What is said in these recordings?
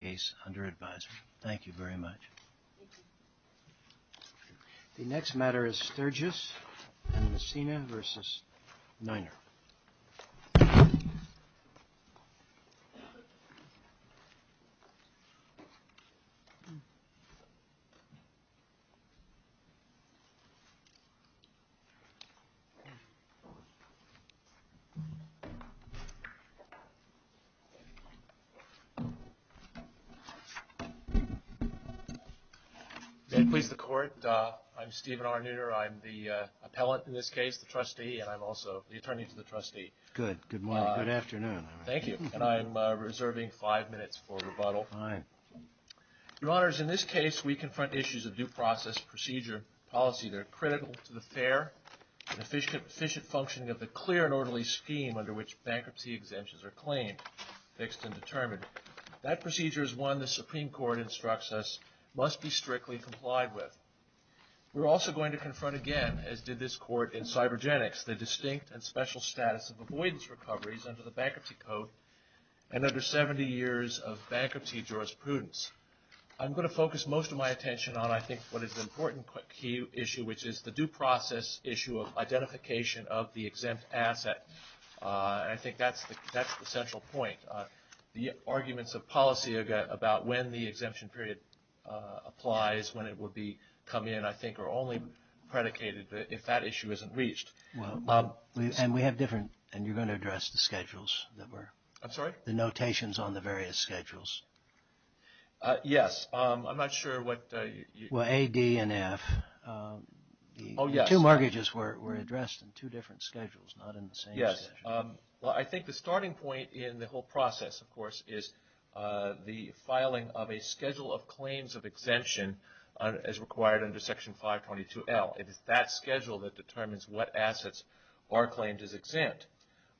The next matter is Sturgis and Messina v. Niner. May it please the Court, I'm Stephen R. Niner. I'm the appellant in this case, the trustee, and I'm also the attorney to the trustee. Good. Good morning. Good afternoon. Thank you. And I'm reserving five minutes for rebuttal. Fine. Your Honors, in this case we confront issues of due process procedure policy that are critical to the fair and efficient functioning of the clear and orderly scheme under which bankruptcy exemptions are claimed, fixed and determined. That procedure is one the Supreme Court instructs us must be strictly complied with. We're also going to confront again, as did this Court in Cybergenics, the distinct and special status of avoidance recoveries under the Bankruptcy Code and under 70 years of bankruptcy jurisprudence. I'm going to focus most of my attention on, I think, what is an important key issue, which is the due process issue of identification of the exempt asset. And I think that's the central point. The arguments of policy about when the exemption period applies, when it will be coming in, I think are only predicated if that issue isn't reached. Well, Bob, and we have different, and you're going to address the schedules that were. I'm sorry? The notations on the various schedules. Yes. I'm not sure what you. Well, A, D, and F. Oh, yes. The two mortgages were addressed in two different schedules, not in the same schedule. Yes. Well, I think the starting point in the whole process, of course, is the filing of a schedule of claims of exemption as required under Section 522L. It is that schedule that determines what assets are claimed as exempt.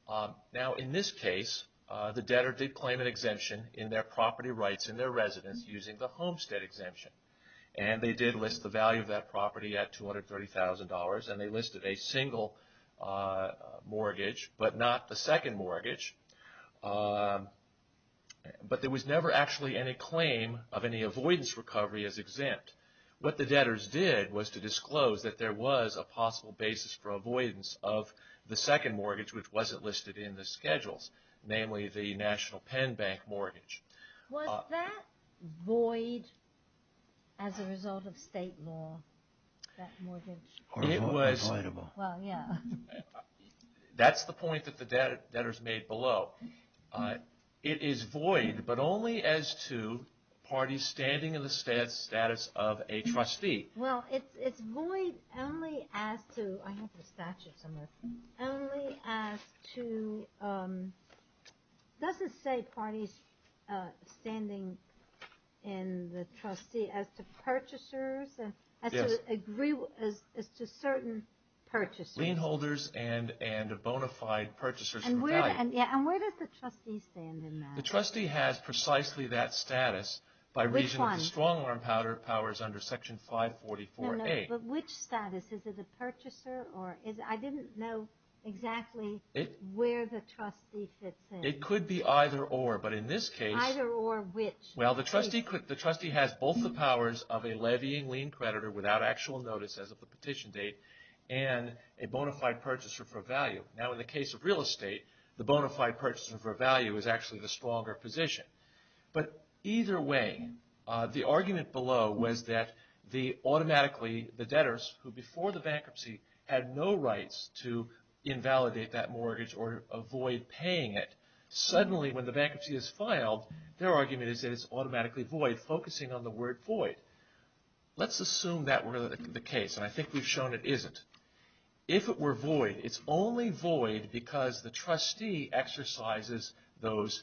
Now, in this case, the debtor did claim an exemption in their property rights and their homestead exemption, and they did list the value of that property at $230,000, and they listed a single mortgage, but not the second mortgage. But there was never actually any claim of any avoidance recovery as exempt. What the debtors did was to disclose that there was a possible basis for avoidance of the second mortgage, which wasn't listed in the schedules, namely the National Penn Bank mortgage. Was that void as a result of state law, that mortgage? It was. Well, yeah. That's the point that the debtors made below. It is void, but only as to parties standing in the status of a trustee. Well, it's void only as to... I have the statute somewhere. Only as to... Does it say parties standing in the trustee as to purchasers? Yes. As to certain purchasers? Lien holders and bona fide purchasers for value. And where does the trustee stand in that? The trustee has precisely that status... Which one? ...under Section 544A. But which status? Is it a purchaser? I didn't know exactly where the trustee fits in. It could be either or, but in this case... Either or which? Well, the trustee has both the powers of a levying lien creditor without actual notice as of the petition date, and a bona fide purchaser for value. Now, in the case of real estate, the bona fide purchaser for value is actually the stronger position. But either way, the argument below was that automatically the debtors, who before the bankruptcy had no rights to invalidate that mortgage or avoid paying it, suddenly when the bankruptcy is filed, their argument is that it's automatically void, focusing on the word void. Let's assume that were the case, and I think we've shown it isn't. If it were void, it's only void because the trustee exercises those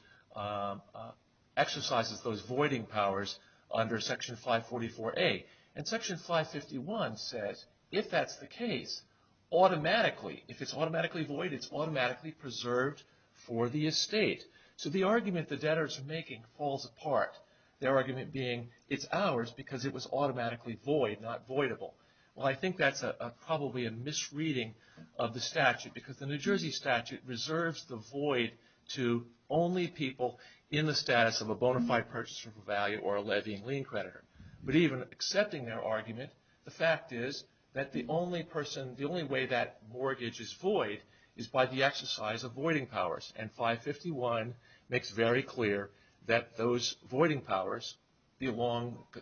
voiding powers under Section 544A. And Section 551 says if that's the case, automatically, if it's automatically void, it's automatically preserved for the estate. So the argument the debtors are making falls apart. Their argument being it's ours because it was automatically void, not voidable. Well, I think that's probably a misreading of the statute because the New Jersey statute reserves the void to only people in the status of a bona fide purchaser for value or a levying lien creditor. But even accepting their argument, the fact is that the only way that mortgage is void is by the exercise of voiding powers. And 551 makes very clear that those voiding powers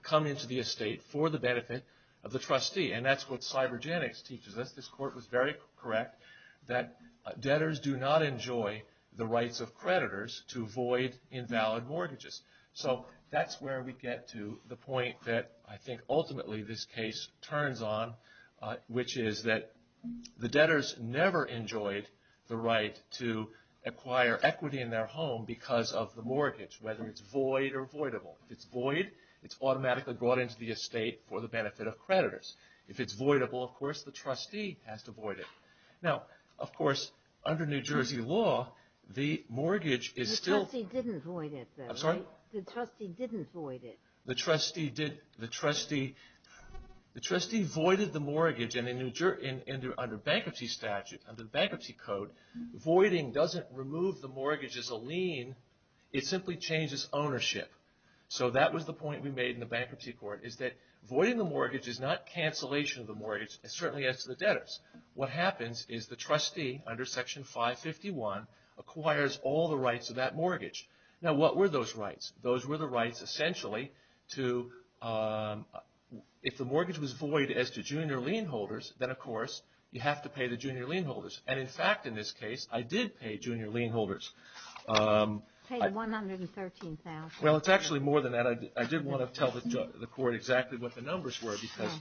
come into the estate for the benefit of the trustee. And that's what cybergenics teaches us. This court was very correct that debtors do not enjoy the rights of creditors to void invalid mortgages. So that's where we get to the point that I think ultimately this case turns on, which is that the debtors never enjoyed the right to acquire equity in their home because of the mortgage, whether it's void or voidable. If it's void, it's automatically brought into the estate for the benefit of creditors. If it's voidable, of course, the trustee has to void it. Now, of course, under New Jersey law, the mortgage is still... The trustee didn't void it, though, right? I'm sorry? The trustee didn't void it. The trustee did... The trustee... The trustee voided the mortgage and under bankruptcy statute, under the bankruptcy code, voiding doesn't remove the mortgage as a lien. It simply changes ownership. So that was the point we made in the bankruptcy court, is that voiding the mortgage is not cancellation of the mortgage. It certainly is to the debtors. What happens is the trustee, under Section 551, acquires all the rights of that mortgage. Now, what were those rights? Those were the rights, essentially, to... If the mortgage was void as to junior lien holders, then, of course, you have to pay the junior lien holders. And, in fact, in this case, I did pay junior lien holders. Paid $113,000. Well, it's actually more than that. I did want to tell the court exactly what the numbers were, because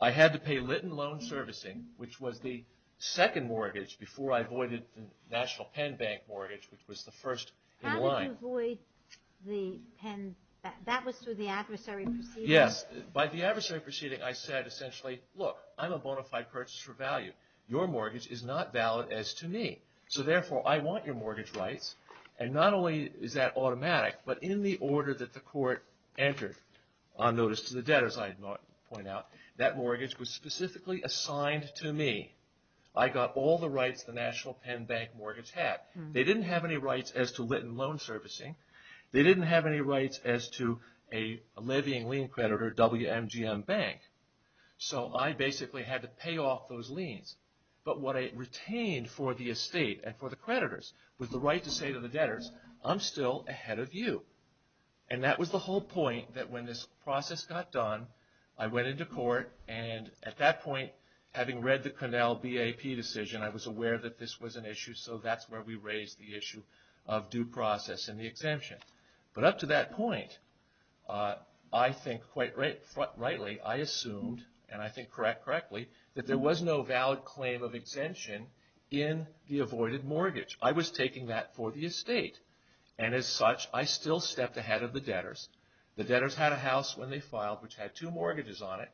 I had to pay Litton Loan Servicing, which was the second mortgage before I voided the National Penn Bank mortgage, which was the first in line. How did you void the Penn... That was through the adversary proceeding? Yes. By the adversary proceeding, I said, essentially, look, I'm a bona fide purchaser of value. Your mortgage is not valid as to me. So, therefore, I want your mortgage rights. And not only is that automatic, but in the order that the court entered, on notice to the debtor, as I had pointed out, that mortgage was specifically assigned to me. I got all the rights the National Penn Bank mortgage had. They didn't have any rights as to Litton Loan Servicing. They didn't have any rights as to a levying lien creditor, WMGM Bank. So, I basically had to pay off those liens. But what I retained for the estate and for the creditors was the right to say to the debtors, I'm still ahead of you. And that was the whole point that when this process got done, I went into court, and at that point, having read the Connell BAP decision, I was aware that this was an issue, so that's where we raised the issue of due process and the exemption. But up to that point, I think, quite rightly, I assumed, and I think correctly, that there was no valid claim of exemption in the avoided mortgage. I was taking that for the estate. And as such, I still stepped ahead of the debtors. The debtors had a house when they filed, which had two mortgages on it.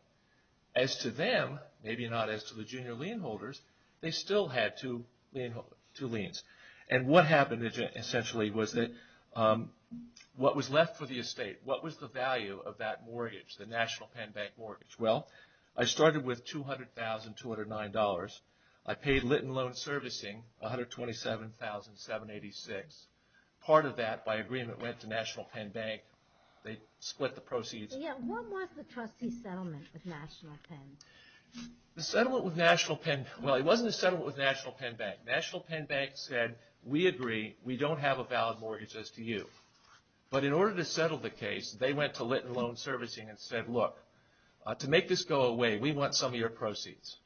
As to them, maybe not as to the junior lien holders, they still had two liens. And what happened, essentially, was that what was left for the estate, what was the value of that mortgage, the National Penn Bank mortgage? Well, I started with $200,209. I paid lit and loan servicing, $127,786. Part of that, by agreement, went to National Penn Bank. They split the proceeds. Yeah, what was the trustee settlement with National Penn? The settlement with National Penn, well, it wasn't a settlement with National Penn Bank. National Penn Bank said, we agree, we don't have a valid mortgage as to you. But in order to settle the case, they went to lit and loan servicing and said, look, to make this go away, we want some of your proceeds.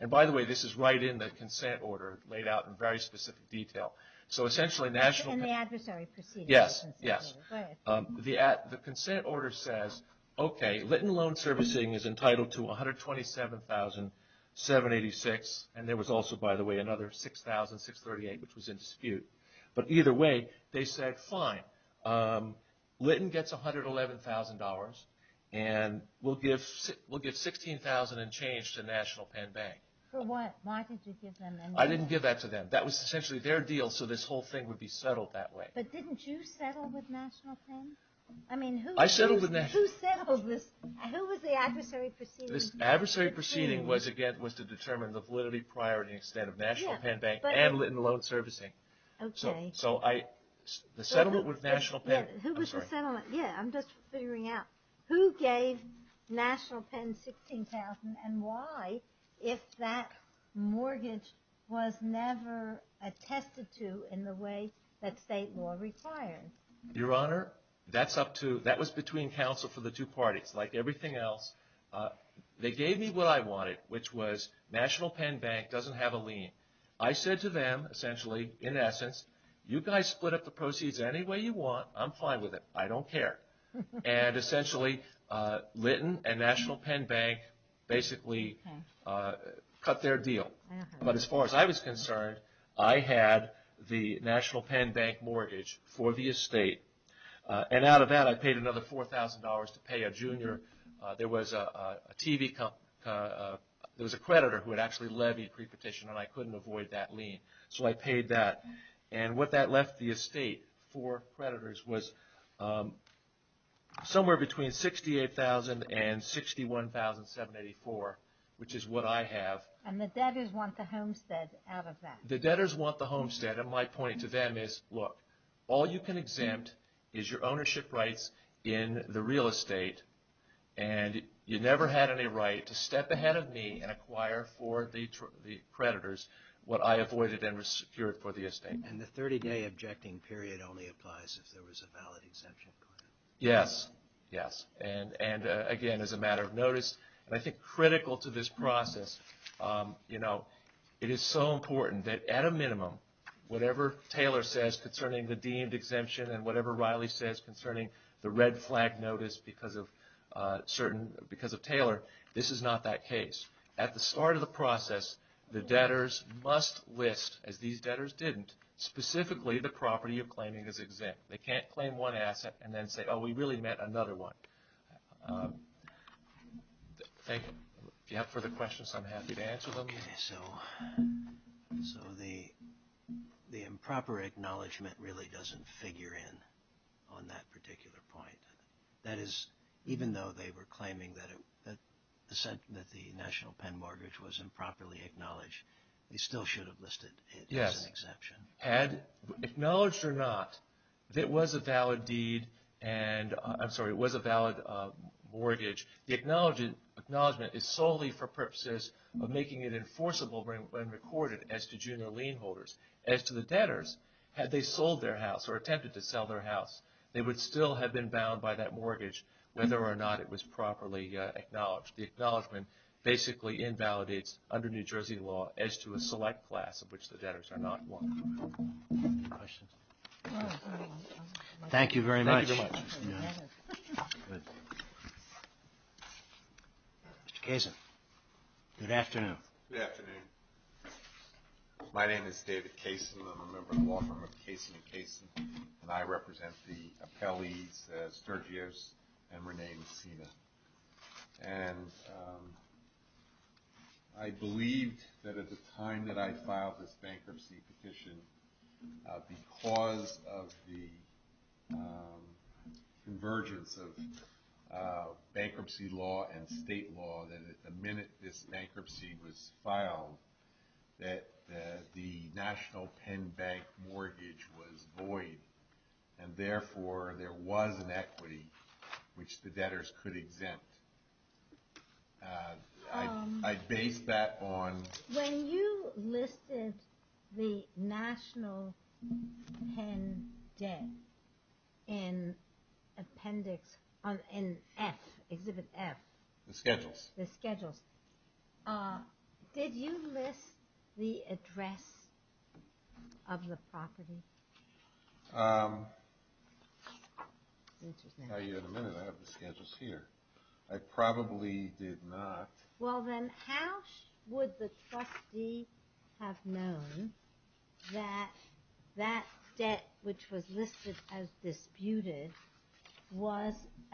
And by the way, this is right in the consent order laid out in very specific detail. So essentially, National Penn. And the adversary proceeded. Yes, yes. Go ahead. The consent order says, okay, lit and loan servicing is entitled to $127,786. And there was also, by the way, another $6,638, which was in dispute. But either way, they said, fine, lit and gets $111,000. And we'll give $16,000 in change to National Penn Bank. For what? Why did you give them $111,000? I didn't give that to them. That was essentially their deal, so this whole thing would be settled that way. But didn't you settle with National Penn? I settled with National Penn. Who settled this? Who was the adversary proceeding? The adversary proceeding, again, was to determine the validity, priority, and extent of National Penn Bank and lit and loan servicing. Okay. So the settlement with National Penn. Who was the settlement? Yeah, I'm just figuring out. Who gave National Penn $16,000 and why, if that mortgage was never attested to in the way that state law requires? Your Honor, that was between counsel for the two parties. Like everything else, they gave me what I wanted, which was National Penn Bank doesn't have a lien. I said to them, essentially, in essence, you guys split up the proceeds any way you want. I'm fine with it. I don't care. And essentially, Litton and National Penn Bank basically cut their deal. But as far as I was concerned, I had the National Penn Bank mortgage for the estate. And out of that, I paid another $4,000 to pay a junior. There was a TV company, there was a creditor who had actually levied pre-petition, and I couldn't avoid that lien. So I paid that. And what that left the estate for creditors was somewhere between $68,000 and $61,784, which is what I have. And the debtors want the homestead out of that. The debtors want the homestead. And my point to them is, look, all you can exempt is your ownership rights in the real estate. And you never had any right to step ahead of me and acquire for the creditors what I avoided and secured for the estate. And the 30-day objecting period only applies if there was a valid exemption. Yes. Yes. And again, as a matter of notice, and I think critical to this process, you know, it is so important that at a minimum, whatever Taylor says concerning the deemed exemption and whatever Riley says concerning the red flag notice because of Taylor, this is not that case. At the start of the process, the debtors must list, as these debtors didn't, specifically the property you're claiming is exempt. They can't claim one asset and then say, oh, we really meant another one. Thank you. If you have further questions, I'm happy to answer them. Okay, so the improper acknowledgment really doesn't figure in on that particular point. That is, even though they were claiming that the National Pen Mortgage was improperly acknowledged, they still should have listed it as an exception. Yes. Had it been acknowledged or not that it was a valid deed and, I'm sorry, it was a valid mortgage, the acknowledgment is solely for purposes of making it enforceable when recorded as to junior lien holders. As to the debtors, had they sold their house or attempted to sell their house, they would still have been bound by that mortgage whether or not it was properly acknowledged. The acknowledgment basically invalidates under New Jersey law as to a select class of which the debtors are not one. Any questions? Thank you very much. Thank you very much. Good. Mr. Kasin. Good afternoon. Good afternoon. My name is David Kasin. I'm a member of the law firm of Kasin & Kasin, and I represent the appellees Sturgios and Renee Messina. And I believed that at the time that I filed this bankruptcy petition, because of the convergence of bankruptcy law and state law, that the minute this bankruptcy was filed that the National Pen Bank mortgage was void. And therefore, there was an equity which the debtors could exempt. I base that on... When you listed the National Pen debt in appendix, in F, Exhibit F. The schedules. The schedules. Did you list the address of the property? I have the schedules here. I probably did not. Well, then how would the trustee have known that that debt, which was listed as disputed, and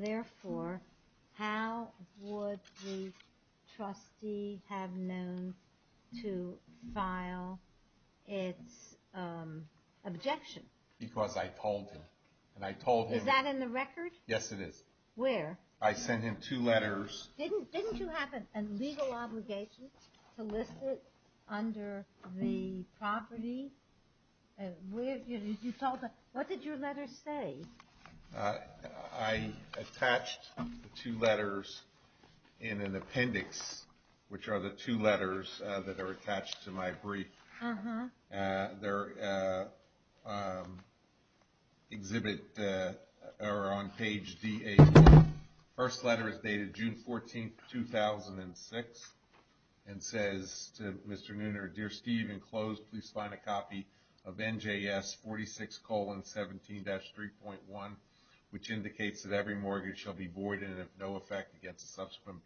therefore, how would the trustee have known to file its objection? Because I told him. And I told him... Is that in the record? Yes, it is. Where? I sent him two letters. Didn't you have a legal obligation to list it under the property? What did your letter say? I attached the two letters in an appendix, which are the two letters that are attached to my brief. They're on page D8. The first letter is dated June 14, 2006, and says to Mr. Nooner, Dear Steve, in close, please find a copy of NJS 46-17-3.1, which indicates that every mortgage shall be void and of no effect against a subsequent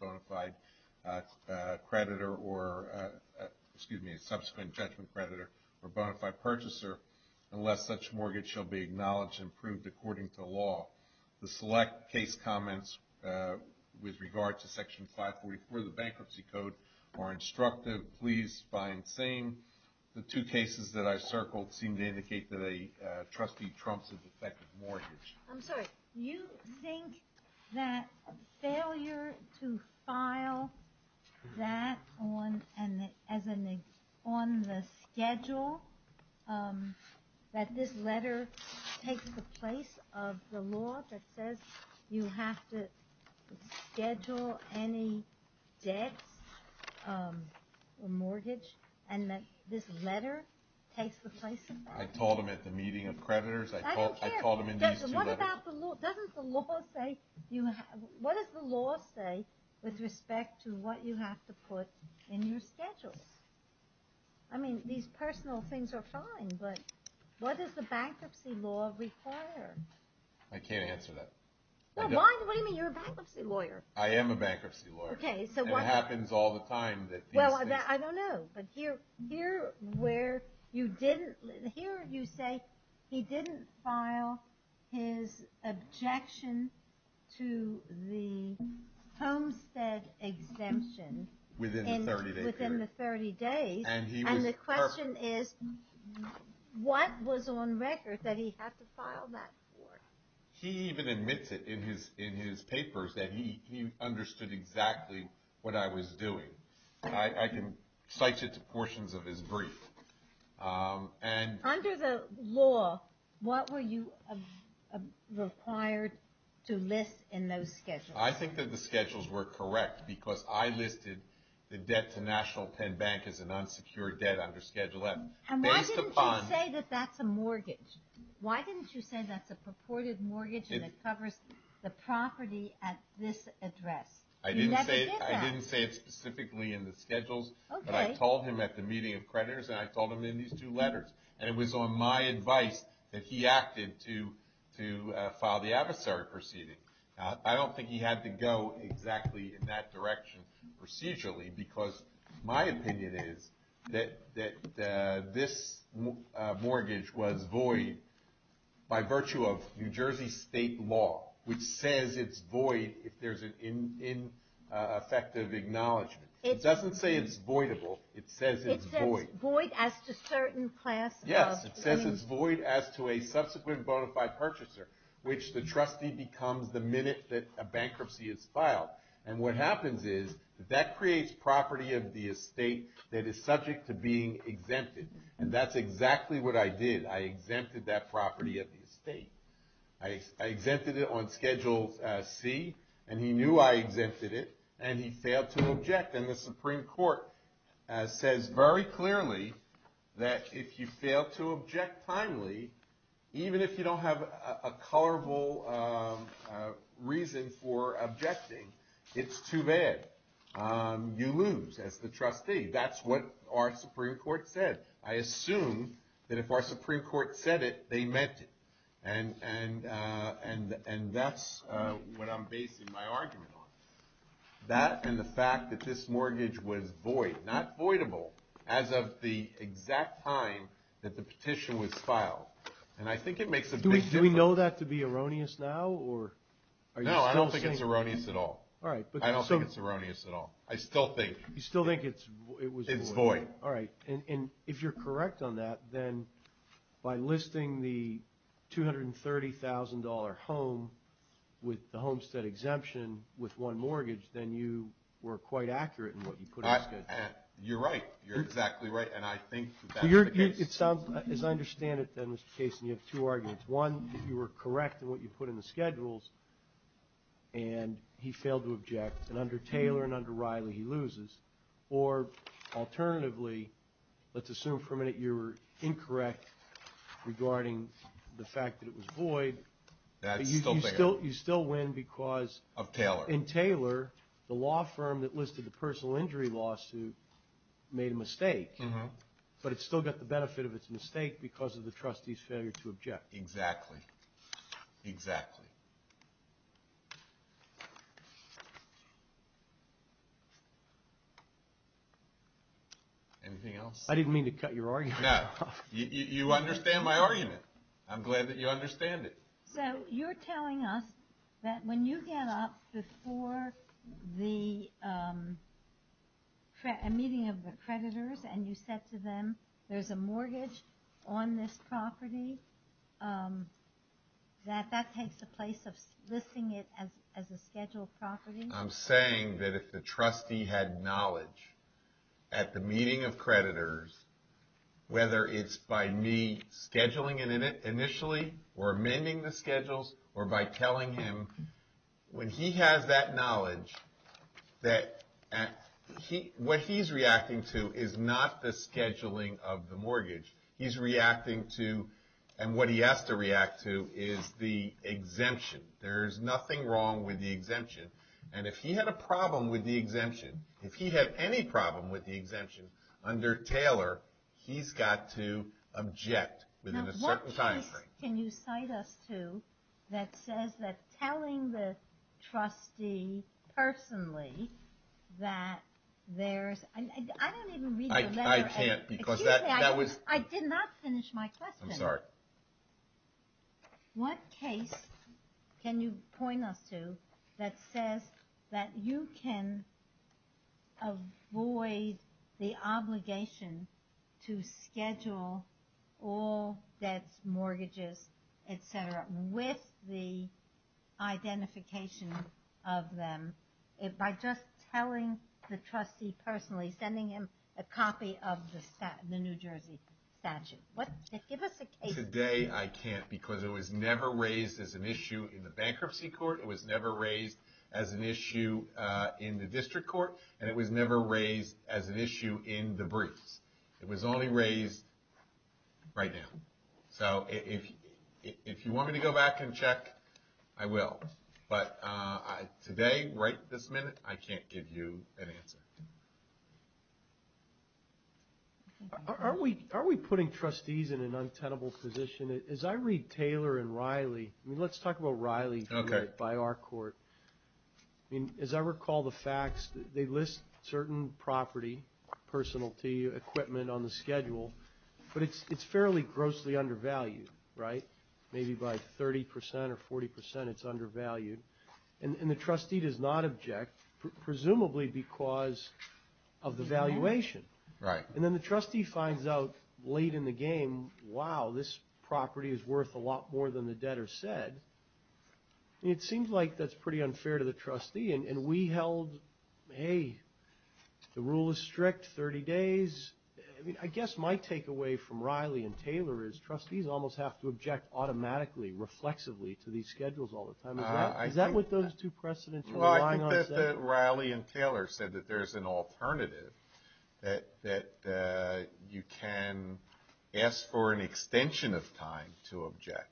judgment creditor or bona fide purchaser, unless such mortgage shall be acknowledged and approved according to law. The select case comments with regard to Section 544 of the Bankruptcy Code are instructive. Please find same. The two cases that I circled seem to indicate that a trustee trumps a defective mortgage. I'm sorry. You think that failure to file that on the schedule, that this letter takes the place of the law that says you have to schedule any debts or mortgage, and that this letter takes the place of that? I told them at the meeting of creditors. I told them in these two letters. What does the law say with respect to what you have to put in your schedule? I mean, these personal things are fine, but what does the bankruptcy law require? I can't answer that. What do you mean you're a bankruptcy lawyer? I am a bankruptcy lawyer. It happens all the time. I don't know, but here you say he didn't file his objection to the Homestead exemption within the 30 days, and the question is what was on record that he had to file that for? He even admits it in his papers that he understood exactly what I was doing. I can cite it to portions of his brief. Under the law, what were you required to list in those schedules? I think that the schedules were correct, because I listed the debt to National Penn Bank as an unsecured debt under Schedule M. And why didn't you say that that's a mortgage? Why didn't you say that's a purported mortgage that covers the property at this address? You never did that. I didn't say it specifically in the schedules, but I told him at the meeting of creditors, and I told him in these two letters. And it was on my advice that he acted to file the adversary proceeding. I don't think he had to go exactly in that direction procedurally, because my opinion is that this mortgage was void by virtue of New Jersey state law, which says it's void if there's an ineffective acknowledgment. It doesn't say it's voidable. It says it's void. It says it's void as to certain class of... Yes, it says it's void as to a subsequent bona fide purchaser, which the trustee becomes the minute that a bankruptcy is filed. And what happens is that that creates property of the estate that is subject to being exempted. And that's exactly what I did. I exempted that property of the estate. I exempted it on Schedule C, and he knew I exempted it, and he failed to object. And the Supreme Court says very clearly that if you fail to object timely, even if you don't have a colorable reason for objecting, it's too bad. You lose as the trustee. That's what our Supreme Court said. I assume that if our Supreme Court said it, they meant it. And that's what I'm basing my argument on. That and the fact that this mortgage was void, not voidable, as of the exact time that the petition was filed. And I think it makes a big difference. Do we know that to be erroneous now? No, I don't think it's erroneous at all. I don't think it's erroneous at all. I still think it's void. All right. And if you're correct on that, then by listing the $230,000 home with the homestead exemption with one mortgage, then you were quite accurate in what you put in. You're right. You're exactly right. And I think that's the case. As I understand it then, Mr. Cason, you have two arguments. One, you were correct in what you put in the schedules, and he failed to object. And under Taylor and under Riley, he loses. Or alternatively, let's assume for a minute you were incorrect regarding the fact that it was void. You still win because in Taylor, the law firm that listed the personal injury lawsuit made a mistake, but it still got the benefit of its mistake because of the trustee's failure to object. Exactly. Exactly. Anything else? I didn't mean to cut your argument. No. You understand my argument. I'm glad that you understand it. So you're telling us that when you get up before the meeting of the creditors and you said to them there's a mortgage on this property, that that takes the place of listing it as a scheduled property? I'm saying that if the trustee had knowledge at the meeting of creditors, whether it's by me scheduling it initially or amending the schedules, or by telling him when he has that knowledge, that what he's reacting to is not the scheduling of the mortgage. He's reacting to, and what he has to react to, is the exemption. There is nothing wrong with the exemption. And if he had a problem with the exemption, if he had any problem with the exemption under Taylor, he's got to object within a certain timeframe. Now what case can you cite us to that says that telling the trustee personally that there's – I don't even read the letter. I can't because that was – Excuse me. I did not finish my question. I'm sorry. What case can you point us to that says that you can avoid the obligation to schedule all debts, mortgages, et cetera, with the identification of them by just telling the trustee personally, sending him a copy of the New Jersey statute? Give us a case. Today I can't because it was never raised as an issue in the bankruptcy court. It was never raised as an issue in the district court, and it was never raised as an issue in the briefs. It was only raised right now. So if you want me to go back and check, I will. But today, right this minute, I can't give you an answer. Are we putting trustees in an untenable position? As I read Taylor and Riley, let's talk about Riley by our court. As I recall the facts, they list certain property, personality, equipment on the schedule, but it's fairly grossly undervalued, right? Maybe by 30% or 40% it's undervalued. And the trustee does not object, presumably because of the valuation. Right. And then the trustee finds out late in the game, wow, this property is worth a lot more than the debtor said. It seems like that's pretty unfair to the trustee, and we held, hey, the rule is strict, 30 days. I guess my takeaway from Riley and Taylor is trustees almost have to object automatically, reflexively to these schedules all the time. Is that what those two precedents are relying on? Well, I think that Riley and Taylor said that there's an alternative, that you can ask for an extension of time to object.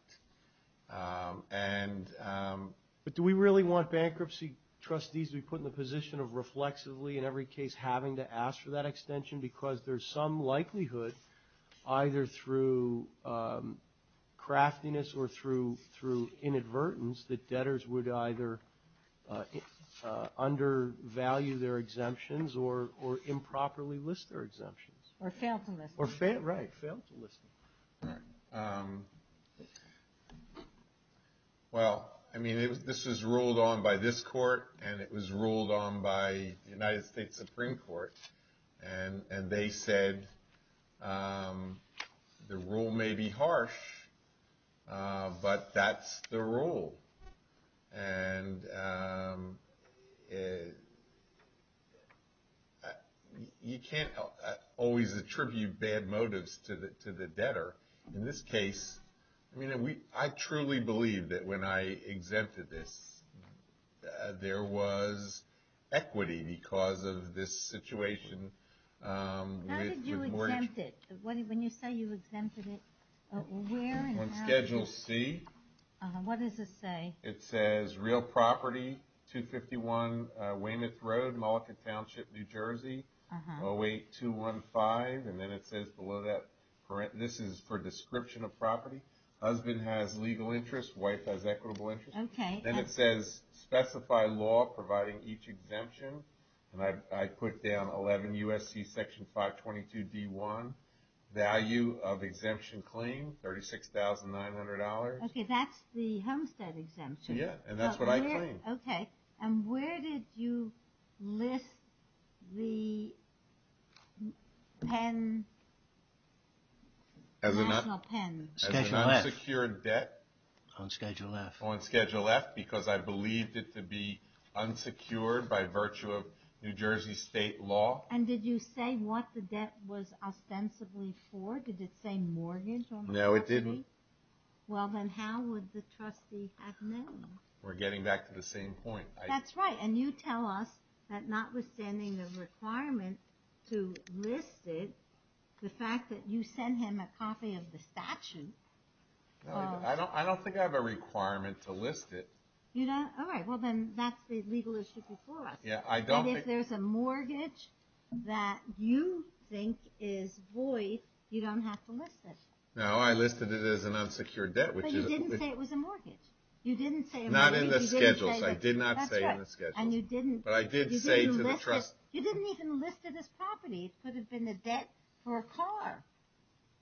But do we really want bankruptcy trustees to be put in the position of reflexively in every case having to ask for that extension because there's some likelihood, either through craftiness or through inadvertence, that debtors would either undervalue their exemptions or improperly list their exemptions. Or fail to list them. Right, fail to list them. Well, I mean, this was ruled on by this court, and it was ruled on by the United States Supreme Court. And they said the rule may be harsh, but that's the rule. And you can't always attribute bad motives to the debtor. In this case, I mean, I truly believe that when I exempted this, there was equity because of this situation. How did you exempt it? When you say you exempted it, where and how? On Schedule C. What does it say? It says real property, 251 Weymouth Road, Mullica Township, New Jersey, 08215. And then it says below that, this is for description of property. Husband has legal interest, wife has equitable interest. Okay. Then it says specify law providing each exemption. And I put down 11 U.S.C. Section 522D1, value of exemption claim, $36,900. Okay, that's the Homestead exemption. Yeah, and that's what I claimed. Okay. And where did you list the pen, national pen? Schedule F. As an unsecured debt. On Schedule F. On Schedule F because I believed it to be unsecured by virtue of New Jersey state law. And did you say what the debt was ostensibly for? Did it say mortgage on property? No, it didn't. Well, then how would the trustee have known? We're getting back to the same point. That's right. And you tell us that notwithstanding the requirement to list it, the fact that you sent him a copy of the statute. I don't think I have a requirement to list it. All right. Well, then that's the legal issue before us. And if there's a mortgage that you think is void, you don't have to list it. No, I listed it as an unsecured debt. But you didn't say it was a mortgage. Not in the schedules. I did not say in the schedules. But I did say to the trustee. You didn't even list it as property. It could have been a debt for a car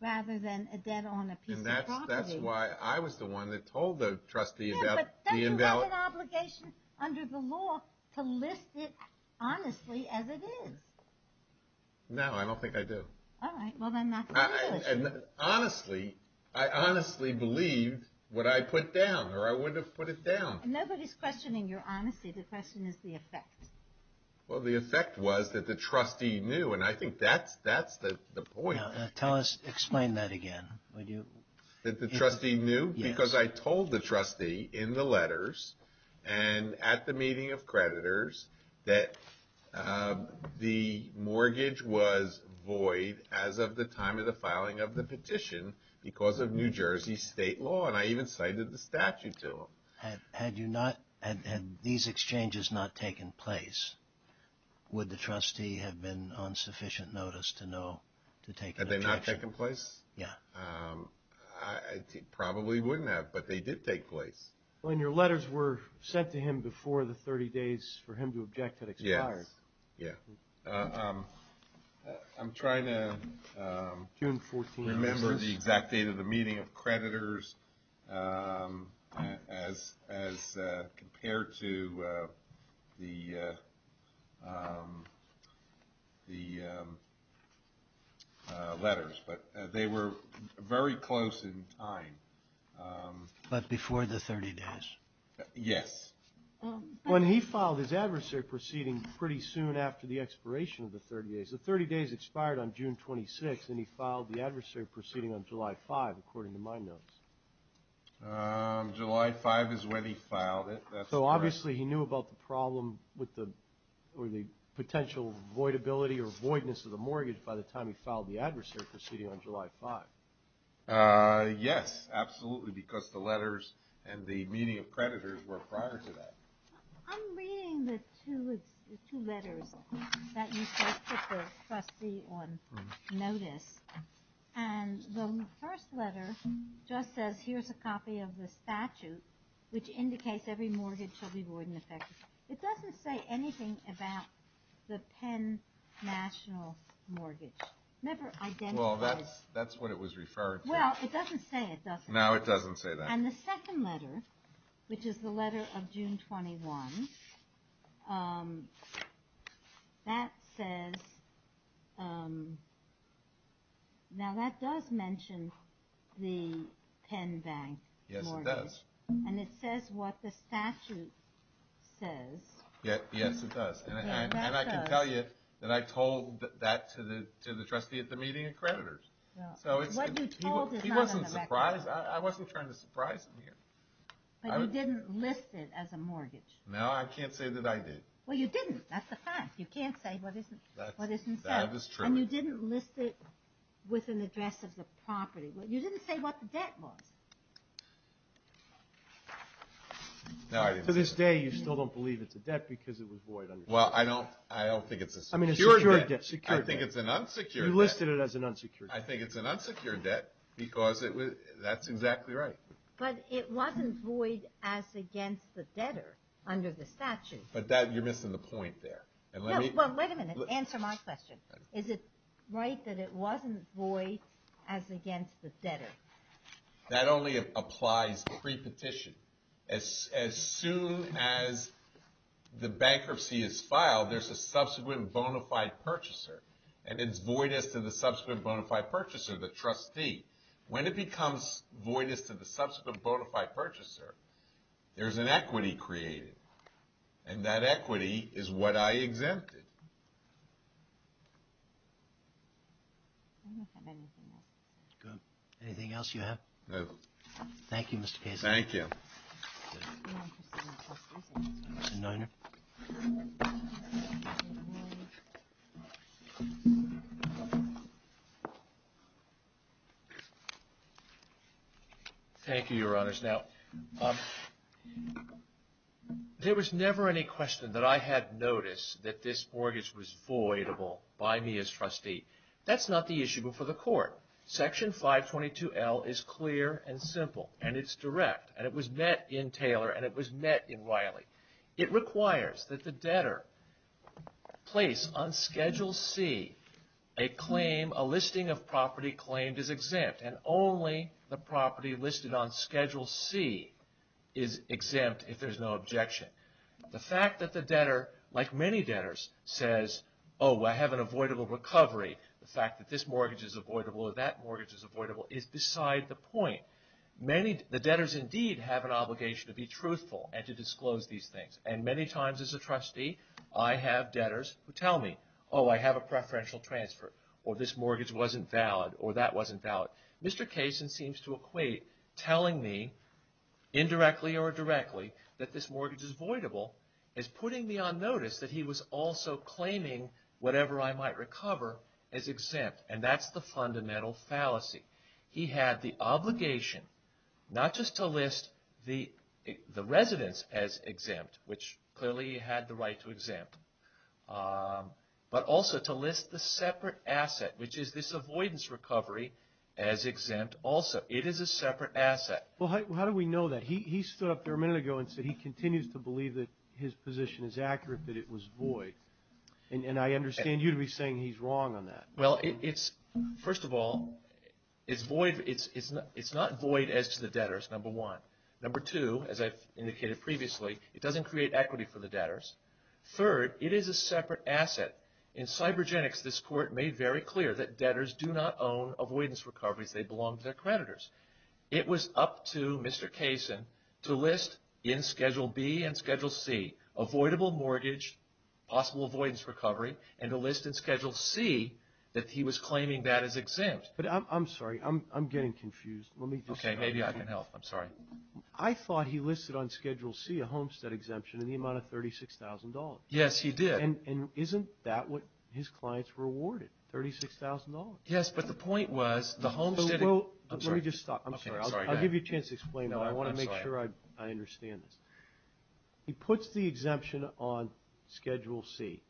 rather than a debt on a piece of property. And that's why I was the one that told the trustee about the invalid— Yeah, but don't you have an obligation under the law to list it honestly as it is? No, I don't think I do. All right. Well, then that's the legal issue. Honestly, I honestly believed what I put down or I would have put it down. Nobody's questioning your honesty. The question is the effect. Well, the effect was that the trustee knew. And I think that's the point. Tell us—explain that again. That the trustee knew? Yes. Because I told the trustee in the letters and at the meeting of creditors that the mortgage was void as of the time of the filing of the petition because of New Jersey state law. And I even cited the statute to them. Had you not—had these exchanges not taken place, would the trustee have been on sufficient notice to know to take an action? Had they not taken place? Yeah. I probably wouldn't have, but they did take place. Well, and your letters were sent to him before the 30 days for him to object had expired. Yes. Yeah. I'm trying to remember the exact date of the meeting of creditors as compared to the letters. But they were very close in time. But before the 30 days. Yes. When he filed his adversary proceeding pretty soon after the expiration of the 30 days. The 30 days expired on June 26th, and he filed the adversary proceeding on July 5th, according to my notes. July 5th is when he filed it. So obviously he knew about the problem with the potential voidability or voidness of the mortgage by the time he filed the adversary proceeding on July 5th. Yes, absolutely, because the letters and the meeting of creditors were prior to that. I'm reading the two letters that you sent to the trustee on notice. And the first letter just says, here's a copy of the statute, which indicates every mortgage shall be void and effective. It doesn't say anything about the Penn National Mortgage. Never identified. Well, that's what it was referred to. Well, it doesn't say it doesn't. No, it doesn't say that. And the second letter, which is the letter of June 21, that says, now that does mention the Penn Bank mortgage. Yes, it does. And it says what the statute says. Yes, it does. And I can tell you that I told that to the trustee at the meeting of creditors. What you told is not on the record. I wasn't trying to surprise him here. But you didn't list it as a mortgage. No, I can't say that I did. Well, you didn't. That's a fact. You can't say what isn't said. That is true. And you didn't list it with an address of the property. You didn't say what the debt was. No, I didn't. To this day, you still don't believe it's a debt because it was void. Well, I don't think it's a secure debt. I think it's an unsecured debt. You listed it as an unsecured debt. I think it's an unsecured debt because that's exactly right. But it wasn't void as against the debtor under the statute. But you're missing the point there. Well, wait a minute. Answer my question. Is it right that it wasn't void as against the debtor? That only applies pre-petition. As soon as the bankruptcy is filed, there's a subsequent bona fide purchaser. And it's void as to the subsequent bona fide purchaser, the trustee. When it becomes void as to the subsequent bona fide purchaser, there's an equity created. And that equity is what I exempted. I don't have anything else. Good. Anything else you have? No. Thank you, Mr. Casey. Thank you. Mr. Niner. Thank you, Your Honors. Now, there was never any question that I had noticed that this mortgage was voidable by me as trustee. That's not the issue before the court. Section 522L is clear and simple. And it's direct. And it was met in Taylor. And it was met in Riley. It requires that the debtor place on Schedule C a listing of property claimed as exempt. And only the property listed on Schedule C is exempt if there's no objection. The fact that the debtor, like many debtors, says, oh, I have an avoidable recovery. The fact that this mortgage is avoidable or that mortgage is avoidable is beside the point. The debtors indeed have an obligation to be truthful and to disclose these things. And many times as a trustee, I have debtors who tell me, oh, I have a preferential transfer, or this mortgage wasn't valid, or that wasn't valid. Mr. Cason seems to equate telling me indirectly or directly that this mortgage is voidable as putting me on notice that he was also claiming whatever I might recover as exempt. And that's the fundamental fallacy. He had the obligation not just to list the residence as exempt, which clearly he had the right to exempt, but also to list the separate asset, which is this avoidance recovery, as exempt also. It is a separate asset. Well, how do we know that? He stood up there a minute ago and said he continues to believe that his position is accurate, that it was void. And I understand you to be saying he's wrong on that. Well, first of all, it's void. It's not void as to the debtors, number one. Number two, as I've indicated previously, it doesn't create equity for the debtors. Third, it is a separate asset. In cybergenics, this Court made very clear that debtors do not own avoidance recoveries. They belong to their creditors. It was up to Mr. Kaysen to list in Schedule B and Schedule C avoidable mortgage, possible avoidance recovery, and to list in Schedule C that he was claiming that as exempt. But I'm sorry, I'm getting confused. Okay, maybe I can help. I'm sorry. I thought he listed on Schedule C a homestead exemption in the amount of $36,000. Yes, he did. And isn't that what his clients were awarded, $36,000? Yes, but the point was the homesteading. Let me just stop. I'm sorry. I'll give you a chance to explain. No, I'm sorry. I want to make sure I understand this. He puts the exemption on Schedule C,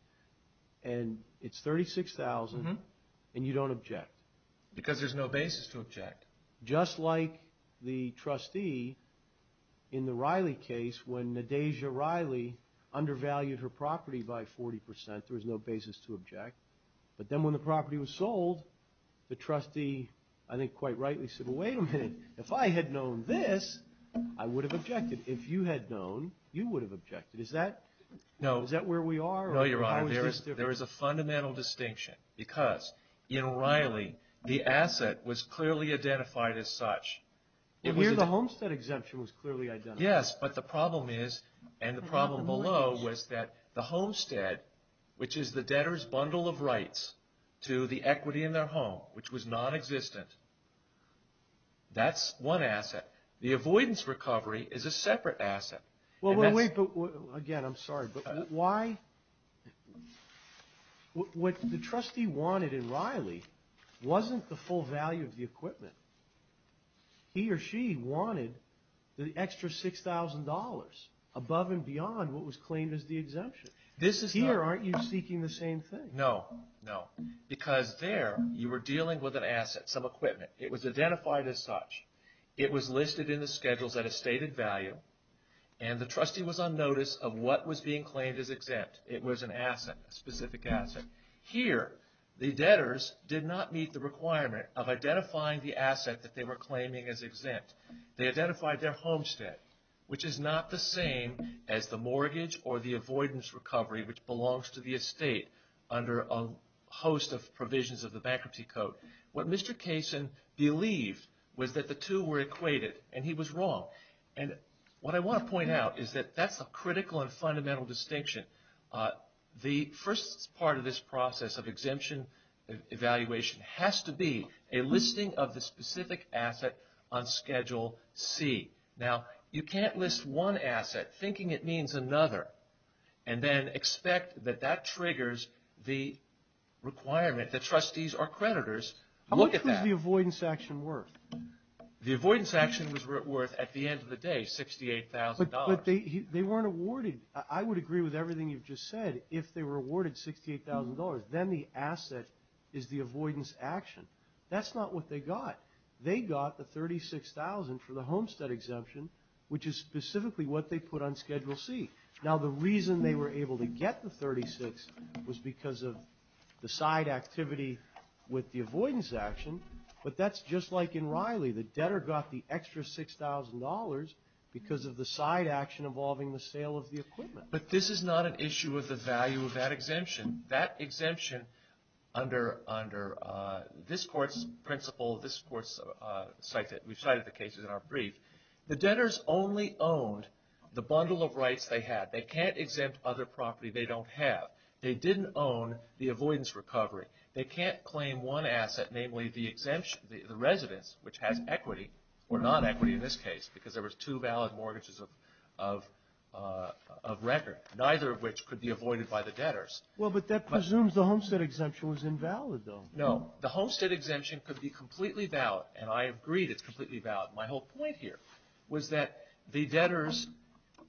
and it's $36,000, and you don't object. Because there's no basis to object. Just like the trustee in the Riley case when Nadeja Riley undervalued her property by 40%. There was no basis to object. But then when the property was sold, the trustee, I think, quite rightly said, Well, wait a minute. If I had known this, I would have objected. If you had known, you would have objected. Is that where we are? No, Your Honor. There is a fundamental distinction. Because in Riley, the asset was clearly identified as such. Well, here the homestead exemption was clearly identified. Yes, but the problem is, and the problem below, was that the homestead, which is the debtor's bundle of rights to the equity in their home, which was nonexistent, that's one asset. The avoidance recovery is a separate asset. Well, wait. Again, I'm sorry, but why? What the trustee wanted in Riley wasn't the full value of the equipment. He or she wanted the extra $6,000, above and beyond what was claimed as the exemption. Here, aren't you seeking the same thing? No, no. Because there, you were dealing with an asset, some equipment. It was identified as such. It was listed in the schedules at a stated value, and the trustee was on notice of what was being claimed as exempt. It was an asset, a specific asset. Here, the debtors did not meet the requirement of identifying the asset that they were claiming as exempt. They identified their homestead, which is not the same as the mortgage or the avoidance recovery, which belongs to the estate under a host of provisions of the Bankruptcy Code. What Mr. Kaysen believed was that the two were equated, and he was wrong. And what I want to point out is that that's a critical and fundamental distinction. The first part of this process of exemption evaluation has to be a listing of the specific asset on Schedule C. Now, you can't list one asset, thinking it means another, and then expect that that triggers the requirement that trustees or creditors look at that. How much was the avoidance action worth? The avoidance action was worth, at the end of the day, $68,000. But they weren't awarded. I would agree with everything you've just said. If they were awarded $68,000, then the asset is the avoidance action. That's not what they got. They got the $36,000 for the homestead exemption, which is specifically what they put on Schedule C. Now, the reason they were able to get the $36,000 was because of the side activity with the avoidance action. But that's just like in Riley. The debtor got the extra $6,000 because of the side action involving the sale of the equipment. But this is not an issue of the value of that exemption. That exemption, under this Court's principle, this Court's site that we've cited the cases in our brief, the debtors only owned the bundle of rights they had. They can't exempt other property they don't have. They didn't own the avoidance recovery. They can't claim one asset, namely the residence, which has equity or non-equity in this case, because there was two valid mortgages of record, neither of which could be avoided by the debtors. Well, but that presumes the homestead exemption was invalid, though. No. The homestead exemption could be completely valid. And I agree that it's completely valid. My whole point here was that the debtors,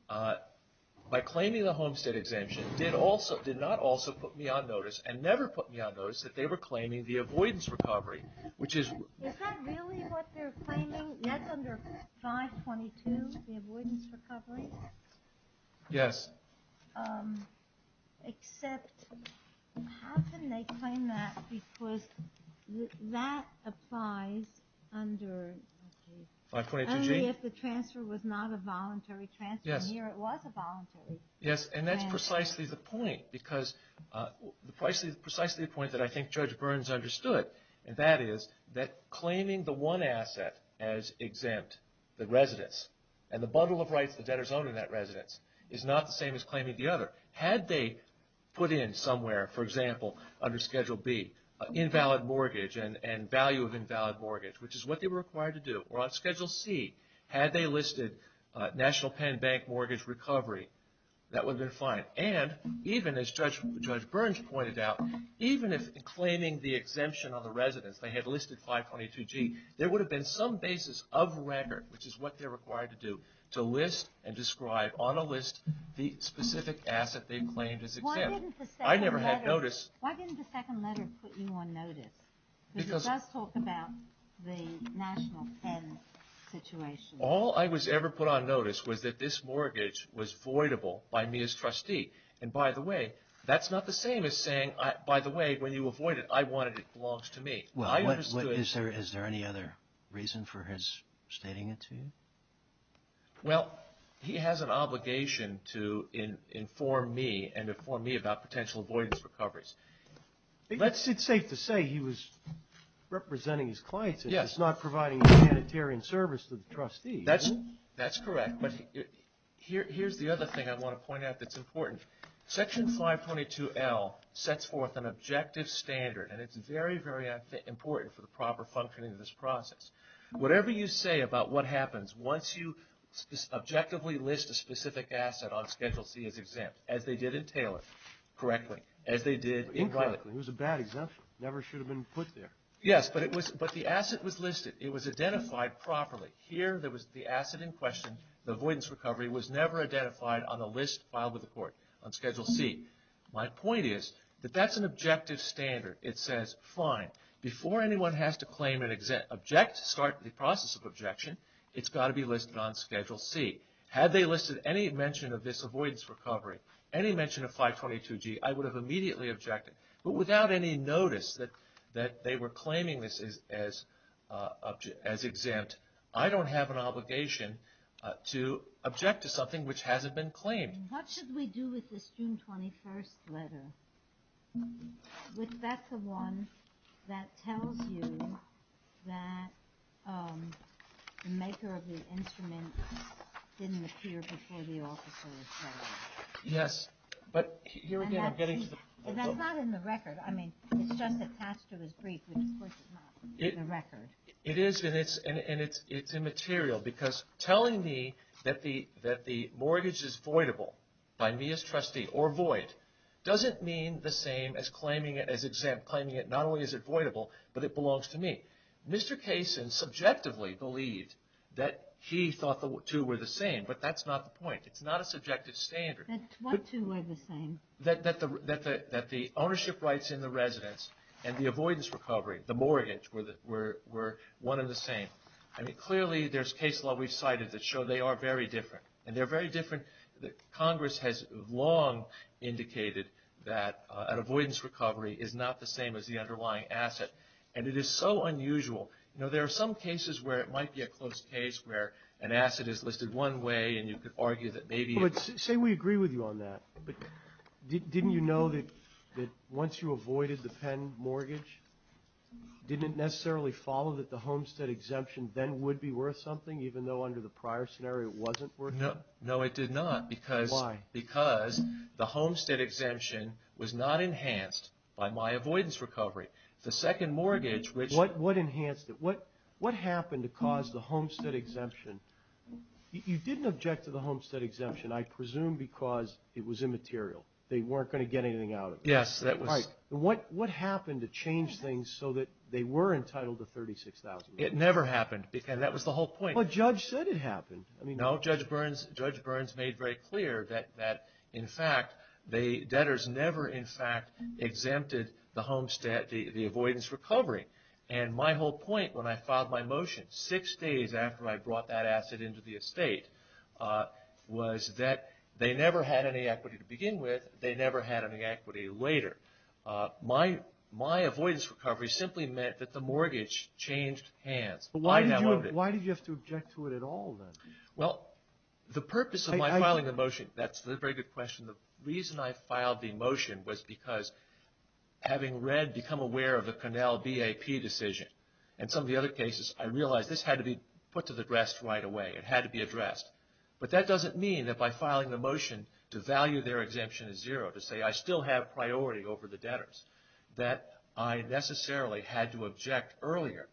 by claiming the homestead exemption, did not also put me on notice and never put me on notice that they were claiming the avoidance recovery, which is... Is that really what they're claiming? That's under 522, the avoidance recovery? Yes. Except, how can they claim that because that applies under... 522G? Only if the transfer was not a voluntary transfer. Yes. Here it was a voluntary transfer. Yes, and that's precisely the point, because precisely the point that I think Judge Burns understood, and that is that claiming the one asset as exempt, the residence, and the bundle of rights the debtors own in that residence, is not the same as claiming the other. Had they put in somewhere, for example, under Schedule B, invalid mortgage and value of invalid mortgage, which is what they were required to do, or on Schedule C, had they listed National Penn Bank mortgage recovery, that would have been fine. And even as Judge Burns pointed out, even if in claiming the exemption on the residence they had listed 522G, there would have been some basis of record, which is what they're required to do, to list and describe on a list the specific asset they claimed as exempt. Why didn't the second letter put you on notice? Because it does talk about the National Penn situation. All I was ever put on notice was that this mortgage was voidable by me as trustee. And by the way, that's not the same as saying, by the way, when you avoid it, I want it, it belongs to me. Well, is there any other reason for his stating it to you? Well, he has an obligation to inform me and inform me about potential avoidance recoveries. It's safe to say he was representing his clients. Yes. He's not providing humanitarian service to the trustees. That's correct. But here's the other thing I want to point out that's important. Section 522L sets forth an objective standard, and it's very, very important for the proper functioning of this process. Whatever you say about what happens once you objectively list a specific asset on Schedule C as exempt, as they did in Taylor, correctly, as they did in Glenda. It was a bad exemption. It never should have been put there. Yes, but the asset was listed. It was identified properly. Here, the asset in question, the avoidance recovery, was never identified on the list filed with the court. On Schedule C. My point is that that's an objective standard. It says, fine, before anyone has to claim and object, start the process of objection, it's got to be listed on Schedule C. Had they listed any mention of this avoidance recovery, any mention of 522G, I would have immediately objected. But without any notice that they were claiming this as exempt, I don't have an obligation to object to something which hasn't been claimed. What should we do with this June 21st letter? That's the one that tells you that the maker of the instrument didn't appear before the officer was claimed. Yes, but here again, I'm getting to the point. That's not in the record. I mean, it's just attached to his brief, which of course is not in the record. It is, and it's immaterial, because telling me that the mortgage is voidable by me as trustee, or void, doesn't mean the same as claiming it as exempt. Claiming not only is it voidable, but it belongs to me. Mr. Kaysen subjectively believed that he thought the two were the same, but that's not the point. It's not a subjective standard. That what two were the same? That the ownership rights in the residence and the avoidance recovery, the mortgage, were one and the same. I mean, clearly there's case law we've cited that show they are very different, and they're very different. Congress has long indicated that an avoidance recovery is not the same as the underlying asset, and it is so unusual. You know, there are some cases where it might be a close case, where an asset is listed one way, and you could argue that maybe — Say we agree with you on that, but didn't you know that once you avoided the Penn mortgage, didn't it necessarily follow that the Homestead exemption then would be worth something, even though under the prior scenario it wasn't worth it? No, it did not. Why? Because the Homestead exemption was not enhanced by my avoidance recovery. The second mortgage, which — What enhanced it? What happened to cause the Homestead exemption? You didn't object to the Homestead exemption, I presume, because it was immaterial. They weren't going to get anything out of it. Yes, that was — What happened to change things so that they were entitled to $36,000? It never happened, because that was the whole point. But Judge said it happened. No, Judge Burns made very clear that, in fact, debtors never, in fact, exempted the Homestead — the avoidance recovery. And my whole point when I filed my motion six days after I brought that asset into the estate was that they never had any equity to begin with. They never had any equity later. My avoidance recovery simply meant that the mortgage changed hands. Why did you have to object to it at all, then? Well, the purpose of my filing the motion — that's a very good question. The reason I filed the motion was because having read, become aware of the Connell BAP decision and some of the other cases, I realized this had to be put to the rest right away. It had to be addressed. But that doesn't mean that by filing the motion to value their exemption as zero, to say I still have priority over the debtors, that I necessarily had to object earlier.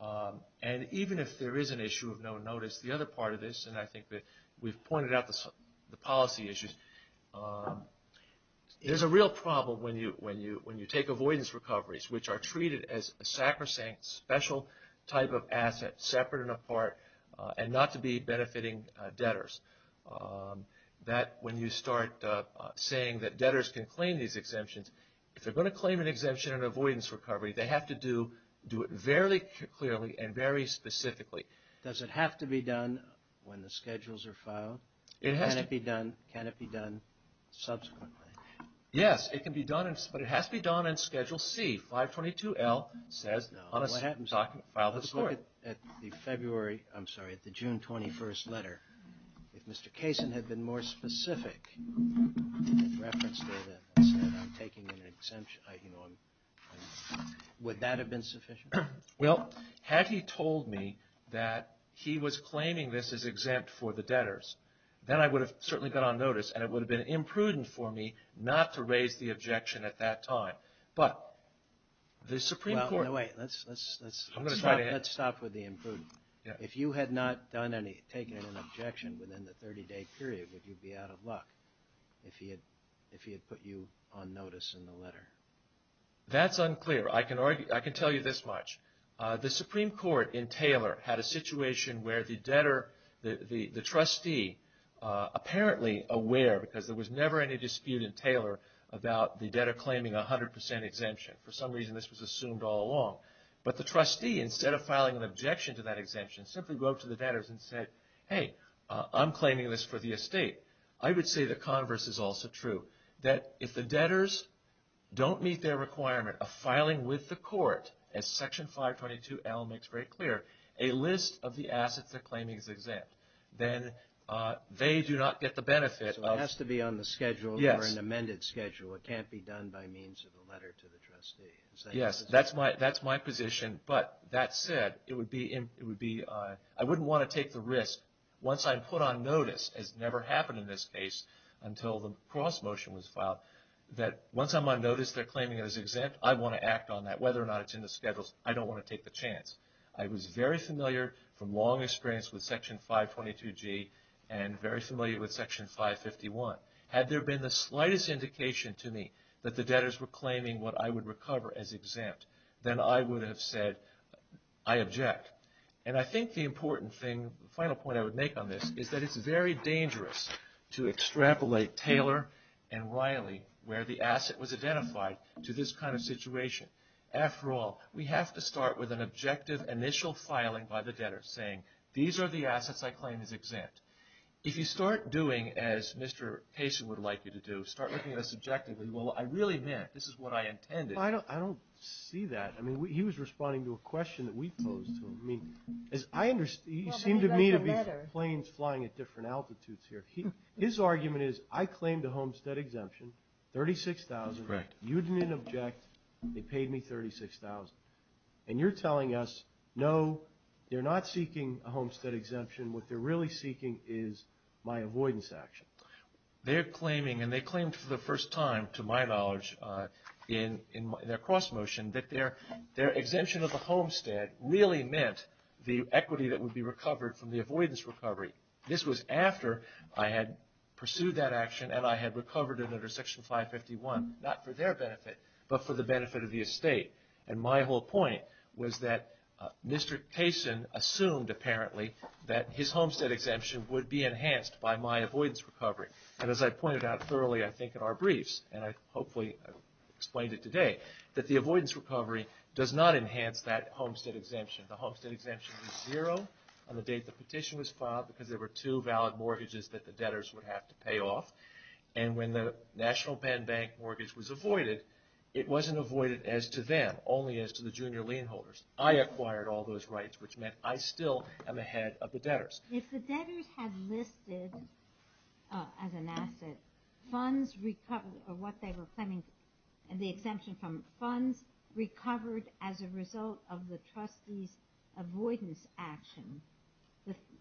And even if there is an issue of no notice, the other part of this — and I think that we've pointed out the policy issues — there's a real problem when you take avoidance recoveries, which are treated as a sacrosanct, special type of asset, separate and apart, and not to be benefiting debtors. That, when you start saying that debtors can claim these exemptions, if they're going to claim an exemption in avoidance recovery, they have to do it very clearly and very specifically. Does it have to be done when the schedules are filed? It has to be done. Can it be done subsequently? Yes, it can be done, but it has to be done on Schedule C. 522L says — No, what happens after you file the report? If you look at the February — I'm sorry, at the June 21st letter, if Mr. Kaysen had been more specific in reference data and said I'm taking an exemption, would that have been sufficient? Well, had he told me that he was claiming this is exempt for the debtors, then I would have certainly got on notice, and it would have been imprudent for me not to raise the objection at that time. Let's stop with the imprudent. If you had not taken an objection within the 30-day period, would you be out of luck if he had put you on notice in the letter? That's unclear. I can tell you this much. The Supreme Court in Taylor had a situation where the debtor, the trustee, apparently aware, because there was never any dispute in Taylor about the debtor claiming a 100% exemption. For some reason, this was assumed all along. But the trustee, instead of filing an objection to that exemption, simply wrote to the debtors and said, hey, I'm claiming this for the estate. I would say the converse is also true, that if the debtors don't meet their requirement of filing with the court, as Section 522L makes very clear, a list of the assets they're claiming is exempt. Then they do not get the benefit. So it has to be on the schedule or an amended schedule. It can't be done by means of a letter to the trustee. Yes, that's my position. But that said, I wouldn't want to take the risk, once I'm put on notice, as never happened in this case until the cross-motion was filed, that once I'm on notice they're claiming it as exempt, I want to act on that. Whether or not it's in the schedules, I don't want to take the chance. I was very familiar from long experience with Section 522G and very familiar with Section 551. Had there been the slightest indication to me that the debtors were claiming what I would recover as exempt, then I would have said, I object. And I think the important thing, the final point I would make on this, is that it's very dangerous to extrapolate Taylor and Riley, where the asset was identified, to this kind of situation. After all, we have to start with an objective initial filing by the debtors saying, these are the assets I claim as exempt. If you start doing as Mr. Kaysen would like you to do, start looking at this objectively, well, I really meant, this is what I intended. Well, I don't see that. I mean, he was responding to a question that we posed to him. He seemed to me to be planes flying at different altitudes here. His argument is, I claimed a homestead exemption, $36,000. Correct. You didn't object. They paid me $36,000. And you're telling us, no, they're not seeking a homestead exemption. What they're really seeking is my avoidance action. They're claiming, and they claimed for the first time, to my knowledge, in their cross motion, that their exemption of the homestead really meant the equity that would be recovered from the avoidance recovery. This was after I had pursued that action and I had recovered it under Section 551, not for their benefit, but for the benefit of the estate. And my whole point was that Mr. Kaysen assumed, apparently, that his homestead exemption would be enhanced by my avoidance recovery. And as I pointed out thoroughly, I think, in our briefs, and I hopefully explained it today, that the avoidance recovery does not enhance that homestead exemption. The homestead exemption is zero on the date the petition was filed because there were two valid mortgages that the debtors would have to pay off. And when the National Penn Bank mortgage was avoided, it wasn't avoided as to them, only as to the junior lien holders. I acquired all those rights, which meant I still am ahead of the debtors. If the debtors had listed, as an asset, funds recovered, or what they were claiming, the exemption from funds recovered as a result of the trustee's avoidance action,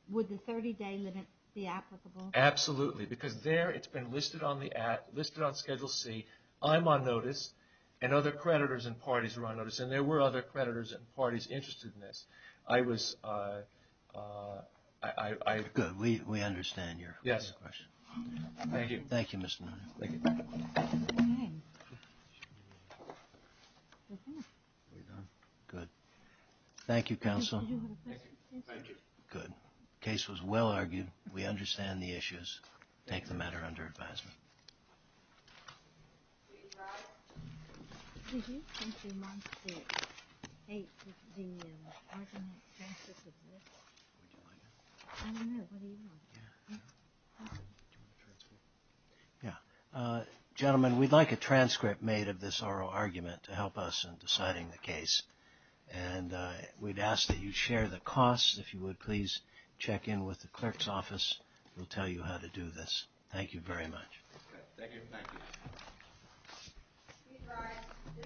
would the 30-day limit be applicable? Absolutely. Because there, it's been listed on the Act, listed on Schedule C, I'm on notice, and other creditors and parties are on notice, and there were other creditors and parties interested in this. I was... Good. We understand your question. Yes. Thank you. Thank you, Mr. Nunez. Thank you. Good. Thank you, counsel. Thank you. Good. The case was well argued. We understand the issues. Take the matter under advisement. Thank you. Judge Rye? Did you think you might take the argument, the transcript of this? Would you like that? I don't know. What do you want? Yeah. Do you want a transcript? Yeah. Gentlemen, we'd like a transcript made of this oral argument to help us in deciding the case. And we'd ask that you share the costs. If you would, please check in with the clerk's office. We'll tell you how to do this. Thank you very much. Thank you. Thank you.